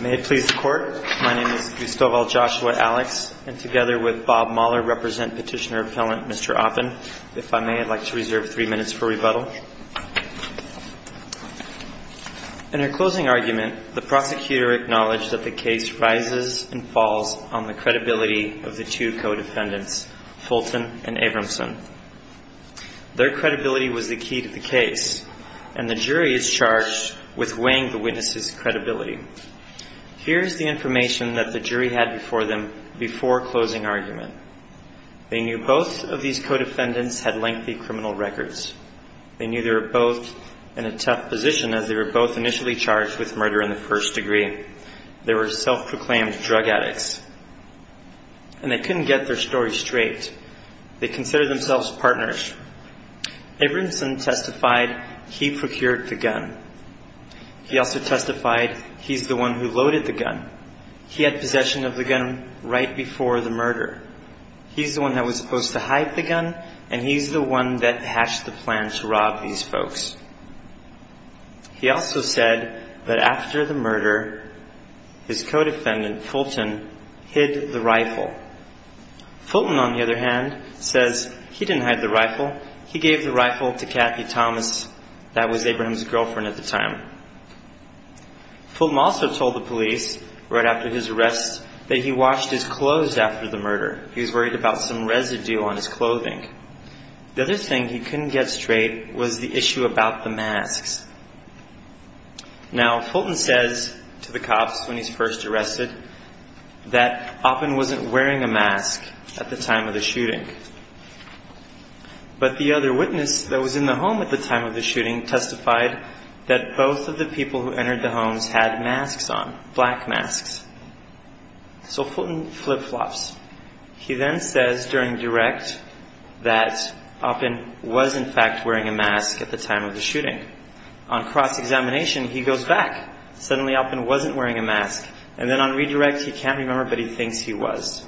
May it please the Court, my name is Gustavo Joshua Alex, and together with Bob Mahler, I represent Petitioner-Appellant Mr. Oppen. If I may, I'd like to reserve three minutes for rebuttal. In her closing argument, the prosecutor acknowledged that the case rises and falls on the credibility of the two co-defendants, Fulton and Avramson. Their credibility was the key to the case, and the jury is charged with weighing the witnesses' credibility. Here is the information that the jury had before them before closing argument. They knew both of these co-defendants had lengthy criminal records. They knew they were both in a tough position, as they were both initially charged with murder in the first degree. They were self-proclaimed drug addicts. And they couldn't get their story straight. They considered themselves partners. Avramson testified he procured the gun. He also testified he's the one who loaded the gun. He had possession of the gun right before the murder. He's the one that was supposed to hide the gun, and he's the one that hatched the plan to rob these folks. He also said that after the murder, his co-defendant, Fulton, hid the rifle. Fulton, on the other hand, says he didn't hide the rifle. He gave the rifle to Kathy Thomas that was Avramson's girlfriend at the time. Fulton also told the police right after his arrest that he washed his clothes after the murder. He was worried about some residue on his clothing. The other thing he couldn't get straight was the issue about the masks. Now, Fulton says to the cops when he's first arrested that Oppen wasn't wearing a mask at the time of the shooting. But the other witness that was in the home at the time of the shooting testified that both of the people who entered the homes had masks on, black masks. So Fulton flip-flops. He then says during direct that Oppen was, in fact, wearing a mask at the time of the shooting. On cross-examination, he goes back. Suddenly, Oppen wasn't wearing a mask. And then on redirect, he can't remember, but he thinks he was.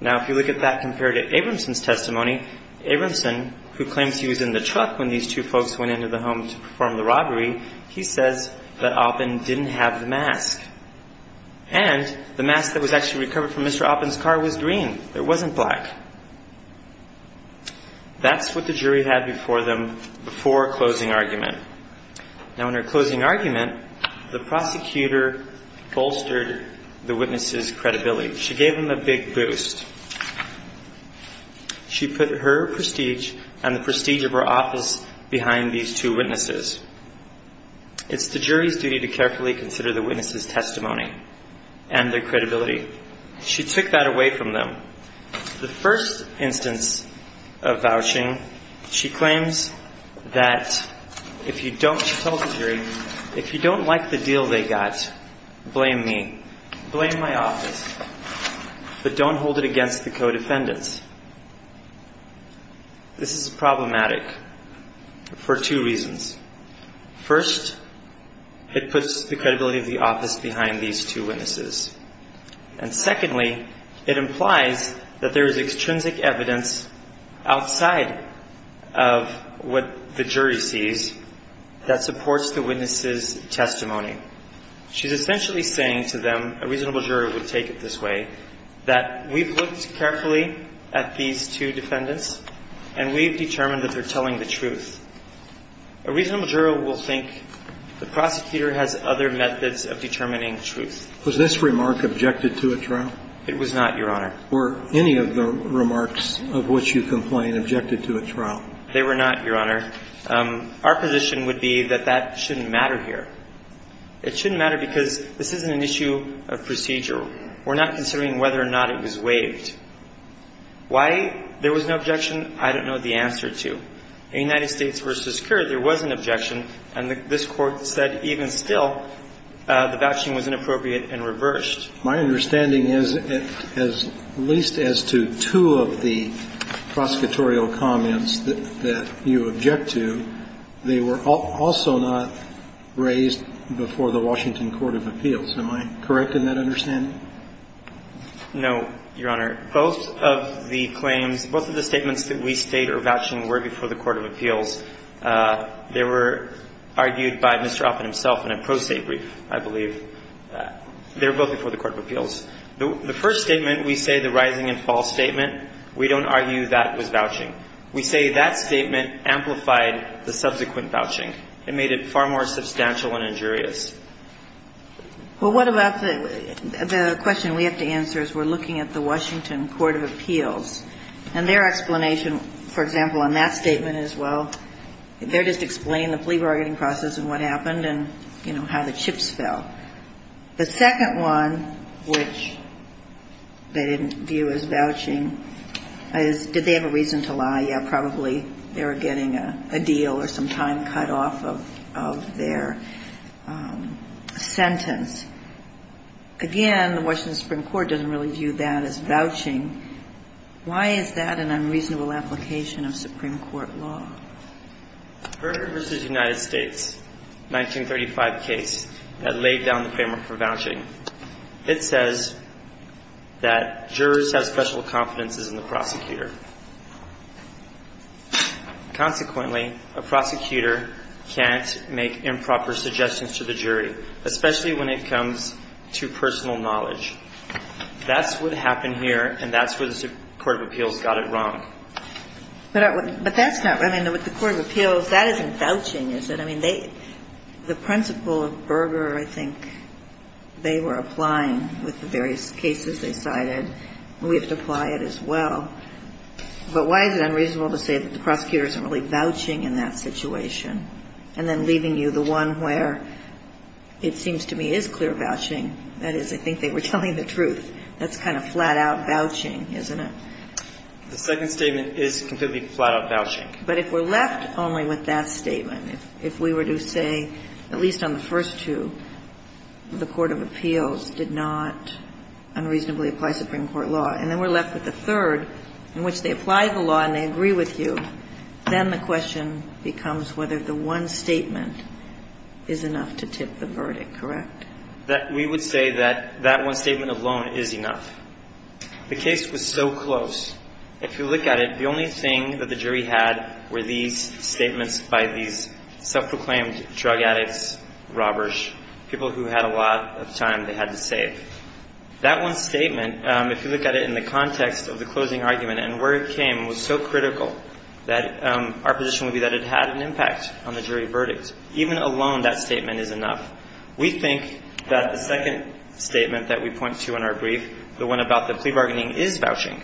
Now, if you look at that compared to Avramson's testimony, Avramson, who claims he was in the truck when these two folks went into the home to perform the robbery, he says that Oppen didn't have the mask. And the mask that was actually recovered from Mr. Oppen's car was green. It wasn't black. That's what the jury had before them before closing argument. Now, in her closing argument, the prosecutor bolstered the witness's credibility. She gave him a big boost. She put her prestige and the prestige of her office behind these two witnesses. It's the jury's duty to carefully consider the witness's testimony and their credibility. She took that away from them. The first instance of vouching, she claims that if you don't, she tells the jury, if you don't like the deal they got, blame me. Blame my office. But don't hold it against the co-defendants. This is problematic for two reasons. First, it puts the credibility of the office behind these two witnesses. And secondly, it implies that there is extrinsic evidence outside of what the jury sees that supports the witness's testimony. She's essentially saying to them, a reasonable juror would take it this way, that we've looked carefully at these two defendants, and we've determined that they're telling the truth. A reasonable juror will think the prosecutor has other methods of determining truth. Was this remark objected to at trial? It was not, Your Honor. Were any of the remarks of which you complain objected to at trial? They were not, Your Honor. Our position would be that that shouldn't matter here. It shouldn't matter because this isn't an issue of procedure. We're not considering whether or not it was waived. Why there was no objection, I don't know the answer to. In United States v. Currie, there was an objection, and this Court said even still the vouching was inappropriate and reversed. My understanding is, at least as to two of the prosecutorial comments that you object to, they were also not raised before the Washington Court of Appeals. Am I correct in that understanding? No, Your Honor. Both of the claims, both of the statements that we state are vouching were before the Court of Appeals. They were argued by Mr. Oppen himself in a pro se brief, I believe. They were both before the Court of Appeals. The first statement, we say the rising and fall statement. We don't argue that it was vouching. We say that statement amplified the subsequent vouching. It made it far more substantial and injurious. Well, what about the question we have to answer is we're looking at the Washington Court of Appeals, and their explanation, for example, on that statement is, well, The second one, which they didn't view as vouching, is did they have a reason to lie? Yeah, probably they were getting a deal or some time cut off of their sentence. Again, the Washington Supreme Court doesn't really view that as vouching. Why is that an unreasonable application of Supreme Court law? Berger v. United States, 1935 case that laid down the framework for vouching, it says that jurors have special confidences in the prosecutor. Consequently, a prosecutor can't make improper suggestions to the jury, especially when it comes to personal knowledge. That's what happened here, and that's where the Court of Appeals got it wrong. But that's not, I mean, with the Court of Appeals, that isn't vouching, is it? I mean, they, the principle of Berger, I think, they were applying with the various cases they cited, and we have to apply it as well. But why is it unreasonable to say that the prosecutor isn't really vouching in that situation, and then leaving you the one where it seems to me is clear vouching, that is, I think they were telling the truth. That's kind of flat-out vouching, isn't it? The second statement is completely flat-out vouching. But if we're left only with that statement, if we were to say, at least on the first two, the Court of Appeals did not unreasonably apply Supreme Court law, and then we're left with the third in which they apply the law and they agree with you, then the question becomes whether the one statement is enough to tip the verdict, correct? We would say that that one statement alone is enough. The case was so close. If you look at it, the only thing that the jury had were these statements by these self-proclaimed drug addicts, robbers, people who had a lot of time they had to save. That one statement, if you look at it in the context of the closing argument and where it came, was so critical that our position would be that it had an impact on the jury verdict. Even alone, that statement is enough. We think that the second statement that we point to in our brief, the one about the plea bargaining, is vouching.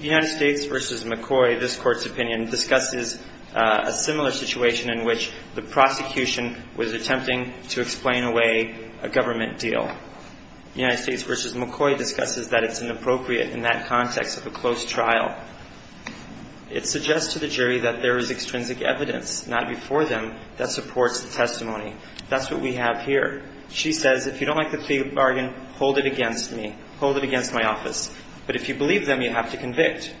United States v. McCoy, this Court's opinion, discusses a similar situation in which the prosecution was attempting to explain away a government deal. United States v. McCoy discusses that it's inappropriate in that context of a close trial. It suggests to the jury that there is extrinsic evidence not before them that supports the testimony. That's what we have here. She says, if you don't like the plea bargain, hold it against me. Hold it against my office. But if you believe them, you have to convict.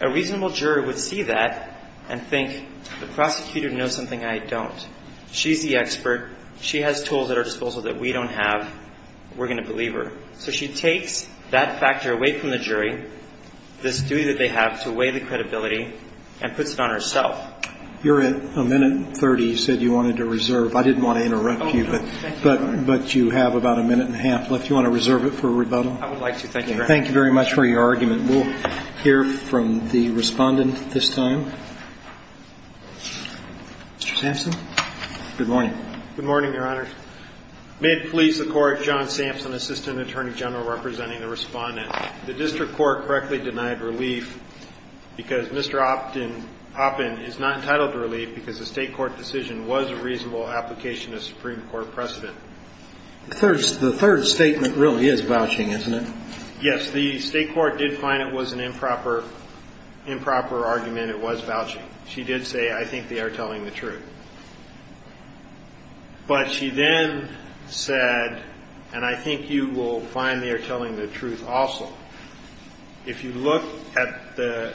A reasonable jury would see that and think, the prosecutor knows something I don't. She's the expert. She has tools at her disposal that we don't have. We're going to believe her. So she takes that factor away from the jury, this duty that they have to weigh the credibility, and puts it on herself. You're at a minute and 30. You said you wanted to reserve. I didn't want to interrupt you, but you have about a minute and a half left. Do you want to reserve it for rebuttal? I would like to. Thank you, Your Honor. Thank you very much for your argument. We'll hear from the Respondent at this time. Mr. Sampson? Good morning. Good morning, Your Honor. May it please the Court, John Sampson, Assistant Attorney General, representing the Respondent. The district court correctly denied relief because Mr. Oppen is not entitled to relief because the state court decision was a reasonable application of Supreme Court precedent. The third statement really is vouching, isn't it? Yes. The state court did find it was an improper argument. It was vouching. She did say, I think they are telling the truth. But she then said, and I think you will find they are telling the truth also, if you look at the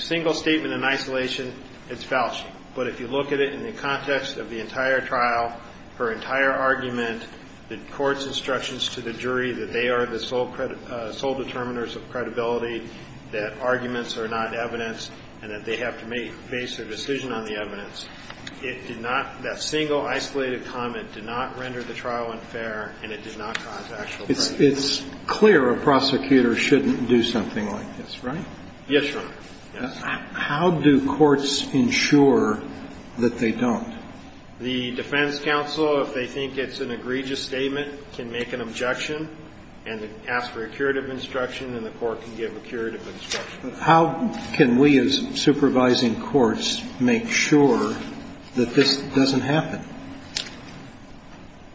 single statement in isolation, it's vouching. But if you look at it in the context of the entire trial, her entire argument, the court's instructions to the jury that they are the sole determiners of credibility, that arguments are not evidence, and that they have to make a decision on the evidence, it did not, that single isolated comment did not render the trial unfair, and it did not cause actual prejudice. It's clear a prosecutor shouldn't do something like this, right? Yes, Your Honor. How do courts ensure that they don't? The defense counsel, if they think it's an egregious statement, can make an objection and ask for a curative instruction, and the court can give a curative instruction. How can we as supervising courts make sure that this doesn't happen?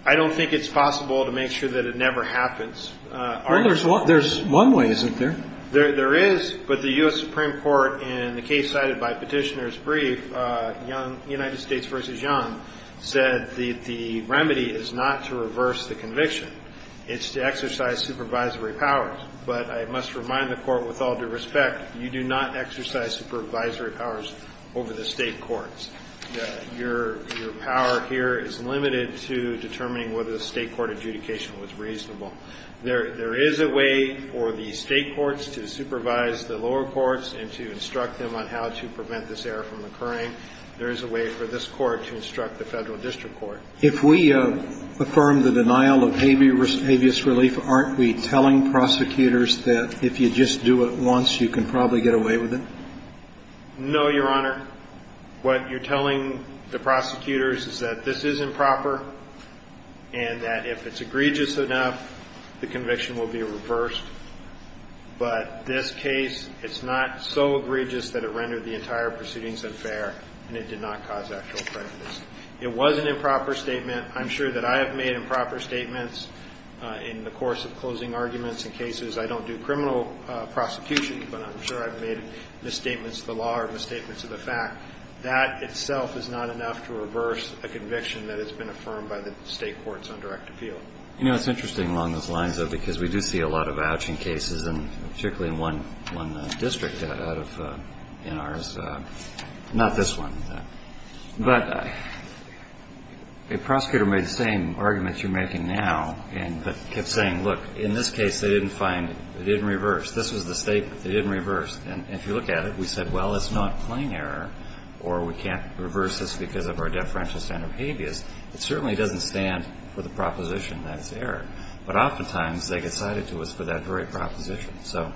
I don't think it's possible to make sure that it never happens. Well, there's one way, isn't there? There is, but the U.S. Supreme Court, in the case cited by Petitioner's brief, United States v. Young, said the remedy is not to reverse the conviction. It's to exercise supervisory powers. But I must remind the Court, with all due respect, you do not exercise supervisory powers over the State courts. Your power here is limited to determining whether the State court adjudication was reasonable. There is a way for the State courts to supervise the lower courts and to instruct them on how to prevent this error from occurring. There is a way for this Court to instruct the Federal district court. If we affirm the denial of habeas relief, aren't we telling prosecutors that if you just do it once, you can probably get away with it? No, Your Honor. What you're telling the prosecutors is that this is improper and that if it's egregious enough, the conviction will be reversed. But this case, it's not so egregious that it rendered the entire proceedings unfair and it did not cause actual prejudice. It was an improper statement. I'm sure that I have made improper statements in the course of closing arguments in cases. I don't do criminal prosecution, but I'm sure I've made misstatements of the law or misstatements of the fact. That itself is not enough to reverse a conviction that has been affirmed by the State courts on direct appeal. You know, it's interesting along those lines, though, because we do see a lot of A prosecutor made the same arguments you're making now, but kept saying, look, in this case, they didn't find it. It didn't reverse. This was the State. It didn't reverse. And if you look at it, we said, well, it's not plain error or we can't reverse this because of our deferential standard of habeas. It certainly doesn't stand for the proposition that it's error. But oftentimes, they get cited to us for that very proposition. So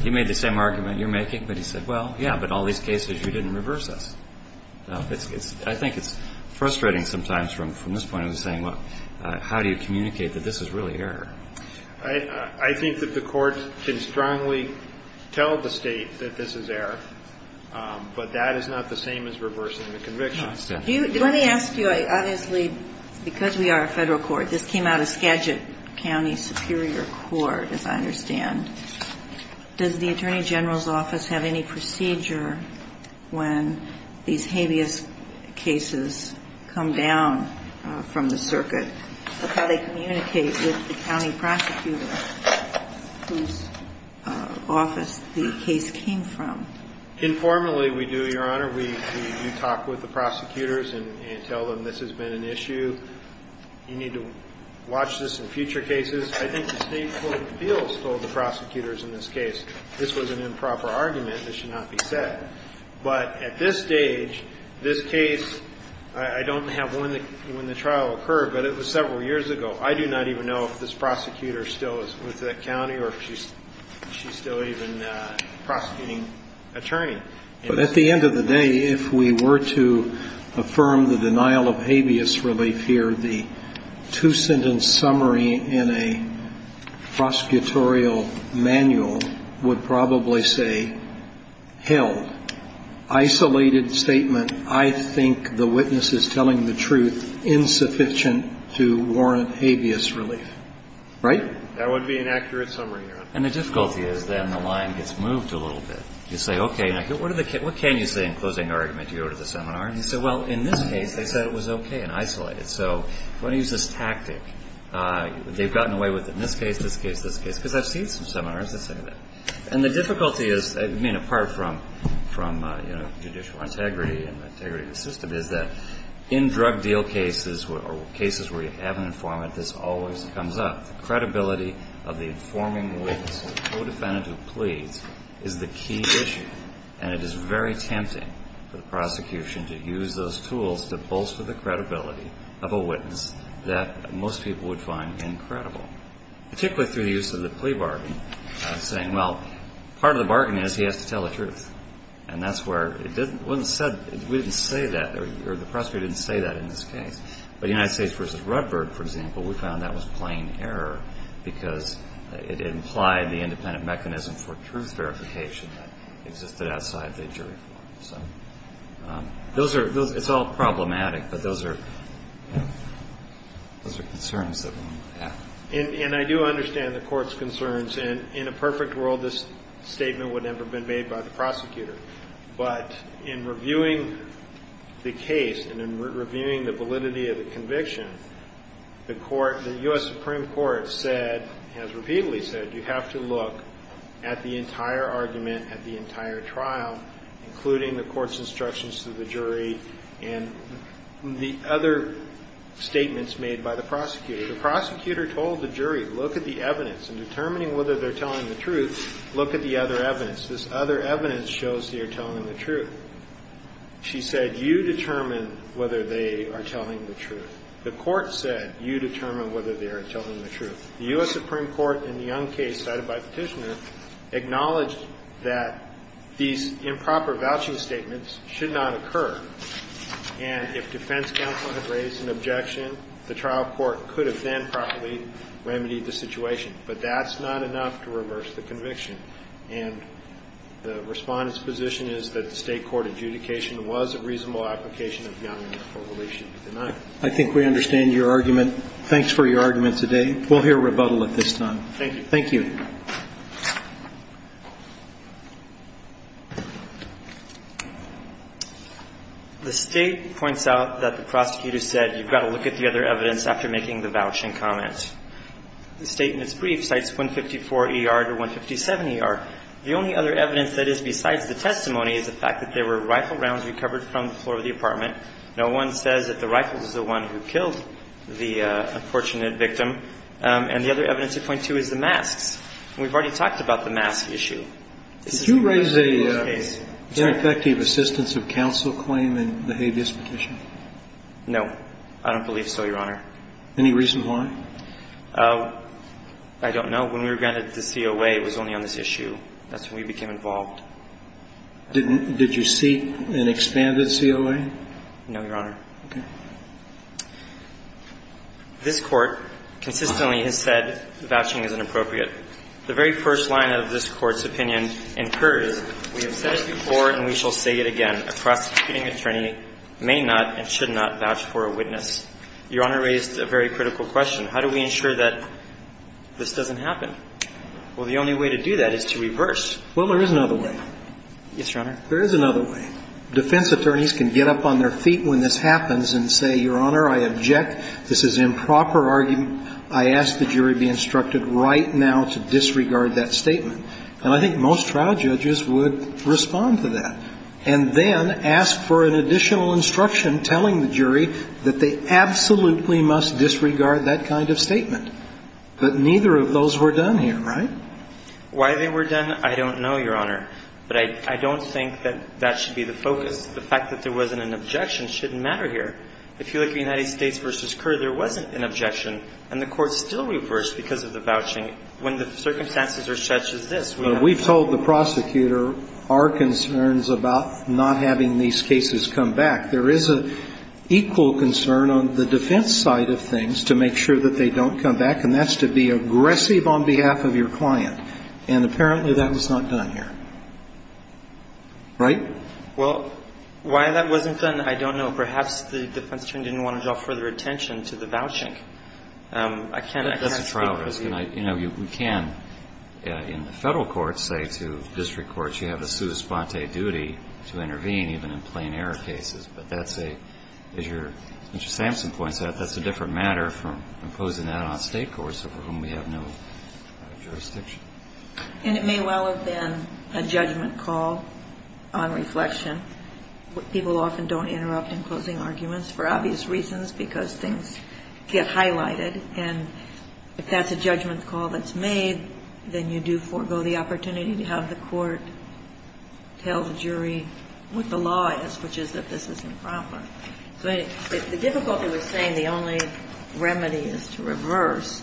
he made the same argument you're making, but he said, well, yeah, but in all these cases, you didn't reverse us. I think it's frustrating sometimes from this point of saying, well, how do you communicate that this is really error? I think that the Court can strongly tell the State that this is error, but that is not the same as reversing the conviction. Let me ask you, obviously, because we are a Federal court, this came out of Skagit County Superior Court, as I understand. Does the Attorney General's office have any procedure when these habeas cases come down from the circuit of how they communicate with the county prosecutor whose office the case came from? Informally, we do, Your Honor. We talk with the prosecutors and tell them this has been an issue. You need to watch this in future cases. I think the State court of appeals told the prosecutors in this case this was an improper argument. This should not be said. But at this stage, this case, I don't have when the trial occurred, but it was several years ago. I do not even know if this prosecutor still is with the county or if she's still even a prosecuting attorney. But at the end of the day, if we were to affirm the denial of habeas relief here, the two-sentence summary in a prosecutorial manual would probably say, held. Isolated statement. I think the witness is telling the truth insufficient to warrant habeas relief. Right? That would be an accurate summary, Your Honor. And the difficulty is then the line gets moved a little bit. You say, okay, what can you say in closing argument? You go to the seminar. And you say, well, in this case, they said it was okay and isolated. So if you want to use this tactic, they've gotten away with it in this case, this case, this case. Because I've seen some seminars that say that. And the difficulty is, I mean, apart from judicial integrity and integrity of the system, is that in drug deal cases or cases where you have an informant, this always comes up. The credibility of the informing witness to co-defendant who pleads is the key issue. And it is very tempting for the prosecution to use those tools to bolster the credibility of a witness that most people would find incredible, particularly through the use of the plea bargain, saying, well, part of the bargain is he has to tell the truth. And that's where it wasn't said, we didn't say that, or the prosecutor didn't say that in this case. But United States v. Rutberg, for example, we found that was plain error because it implied the independent mechanism for truth verification that existed outside the jury court. So it's all problematic. But those are concerns that we have. And I do understand the court's concerns. And in a perfect world, this statement would never have been made by the prosecutor. But in reviewing the case and in reviewing the validity of the conviction, the court, the U.S. Supreme Court said, has repeatedly said, you have to look at the entire argument, at the entire trial, including the court's instructions to the jury, and the other statements made by the prosecutor. The prosecutor told the jury, look at the evidence. In determining whether they're telling the truth, look at the other evidence. This other evidence shows they're telling the truth. She said, you determine whether they are telling the truth. The court said, you determine whether they are telling the truth. The U.S. Supreme Court, in the Young case cited by Petitioner, acknowledged that these improper vouching statements should not occur. And if defense counsel had raised an objection, the trial court could have then properly remedied the situation. But that's not enough to reverse the conviction. And the Respondent's position is that the State court adjudication was a reasonable application of Young for which it should be denied. I think we understand your argument. Thanks for your argument today. We'll hear rebuttal at this time. Thank you. Thank you. The State points out that the prosecutor said you've got to look at the other evidence after making the vouching comment. The State, in its brief, cites 154 ER to 157 ER. The only other evidence that is besides the testimony is the fact that there were rifle rounds recovered from the floor of the apartment. No one says that the rifle was the one who killed the unfortunate victim. And the other evidence at point two is the masks. And we've already talked about the mask issue. Did you raise an effective assistance of counsel claim in the habeas petition? No. I don't believe so, Your Honor. Any reason why? I don't know. When we were granted the COA, it was only on this issue. That's when we became involved. Did you seek an expanded COA? No, Your Honor. Okay. This Court consistently has said vouching is inappropriate. The very first line of this Court's opinion incurs, we have said it before and we shall say it again, a prosecuting attorney may not and should not vouch for a witness. Your Honor raised a very critical question. How do we ensure that this doesn't happen? Well, the only way to do that is to reverse. Well, there is another way. Yes, Your Honor. There is another way. Defense attorneys can get up on their feet when this happens and say, Your Honor, I object. This is improper argument. I ask the jury be instructed right now to disregard that statement. And I think most trial judges would respond to that and then ask for an additional instruction telling the jury that they absolutely must disregard that kind of statement. But neither of those were done here, right? Why they were done, I don't know, Your Honor. But I don't think that that should be the focus. The fact that there wasn't an objection shouldn't matter here. If you look at United States v. Kerr, there wasn't an objection. And the Court still reversed because of the vouching when the circumstances are such as this. We have told the prosecutor our concerns about not having these cases come back. There is an equal concern on the defense side of things to make sure that they don't come back, and that's to be aggressive on behalf of your client. And apparently that was not done here, right? Well, why that wasn't done, I don't know. Perhaps the defense attorney didn't want to draw further attention to the vouching. I can't speak for you. That's a trial risk. You know, we can, in the Federal courts, say to district courts, you have a sua sponte duty to intervene even in plain error cases. But that's a, as Mr. Sampson points out, that's a different matter from imposing that on State courts over whom we have no jurisdiction. And it may well have been a judgment call on reflection. People often don't interrupt in closing arguments for obvious reasons because things get highlighted. And if that's a judgment call that's made, then you do forego the opportunity to have the court tell the jury what the law is, which is that this is improper. But the difficulty with saying the only remedy is to reverse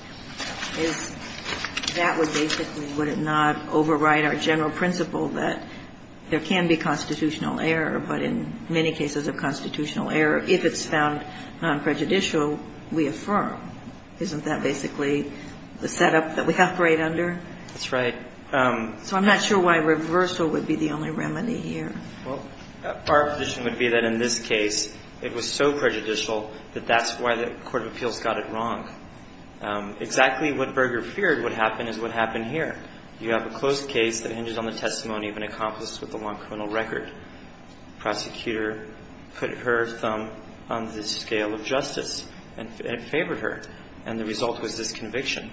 is that would basically would it not overwrite our general principle that there can be constitutional error, but in many cases of constitutional error, if it's found nonprejudicial, we affirm. Isn't that basically the setup that we operate under? That's right. So I'm not sure why reversal would be the only remedy here. Well, our position would be that in this case, it was so prejudicial that that's why the Court of Appeals got it wrong. Exactly what Berger feared would happen is what happened here. You have a closed case that hinges on the testimony of an accomplice with a long criminal record. Prosecutor put her thumb on the scale of justice and favored her. And the result was this conviction.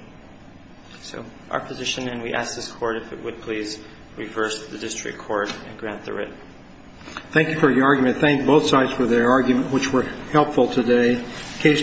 So our position, and we ask this Court if it would please reverse the district court and grant the writ. Thank you for your argument. Thank both sides for their argument, which were helpful today. Case just finished.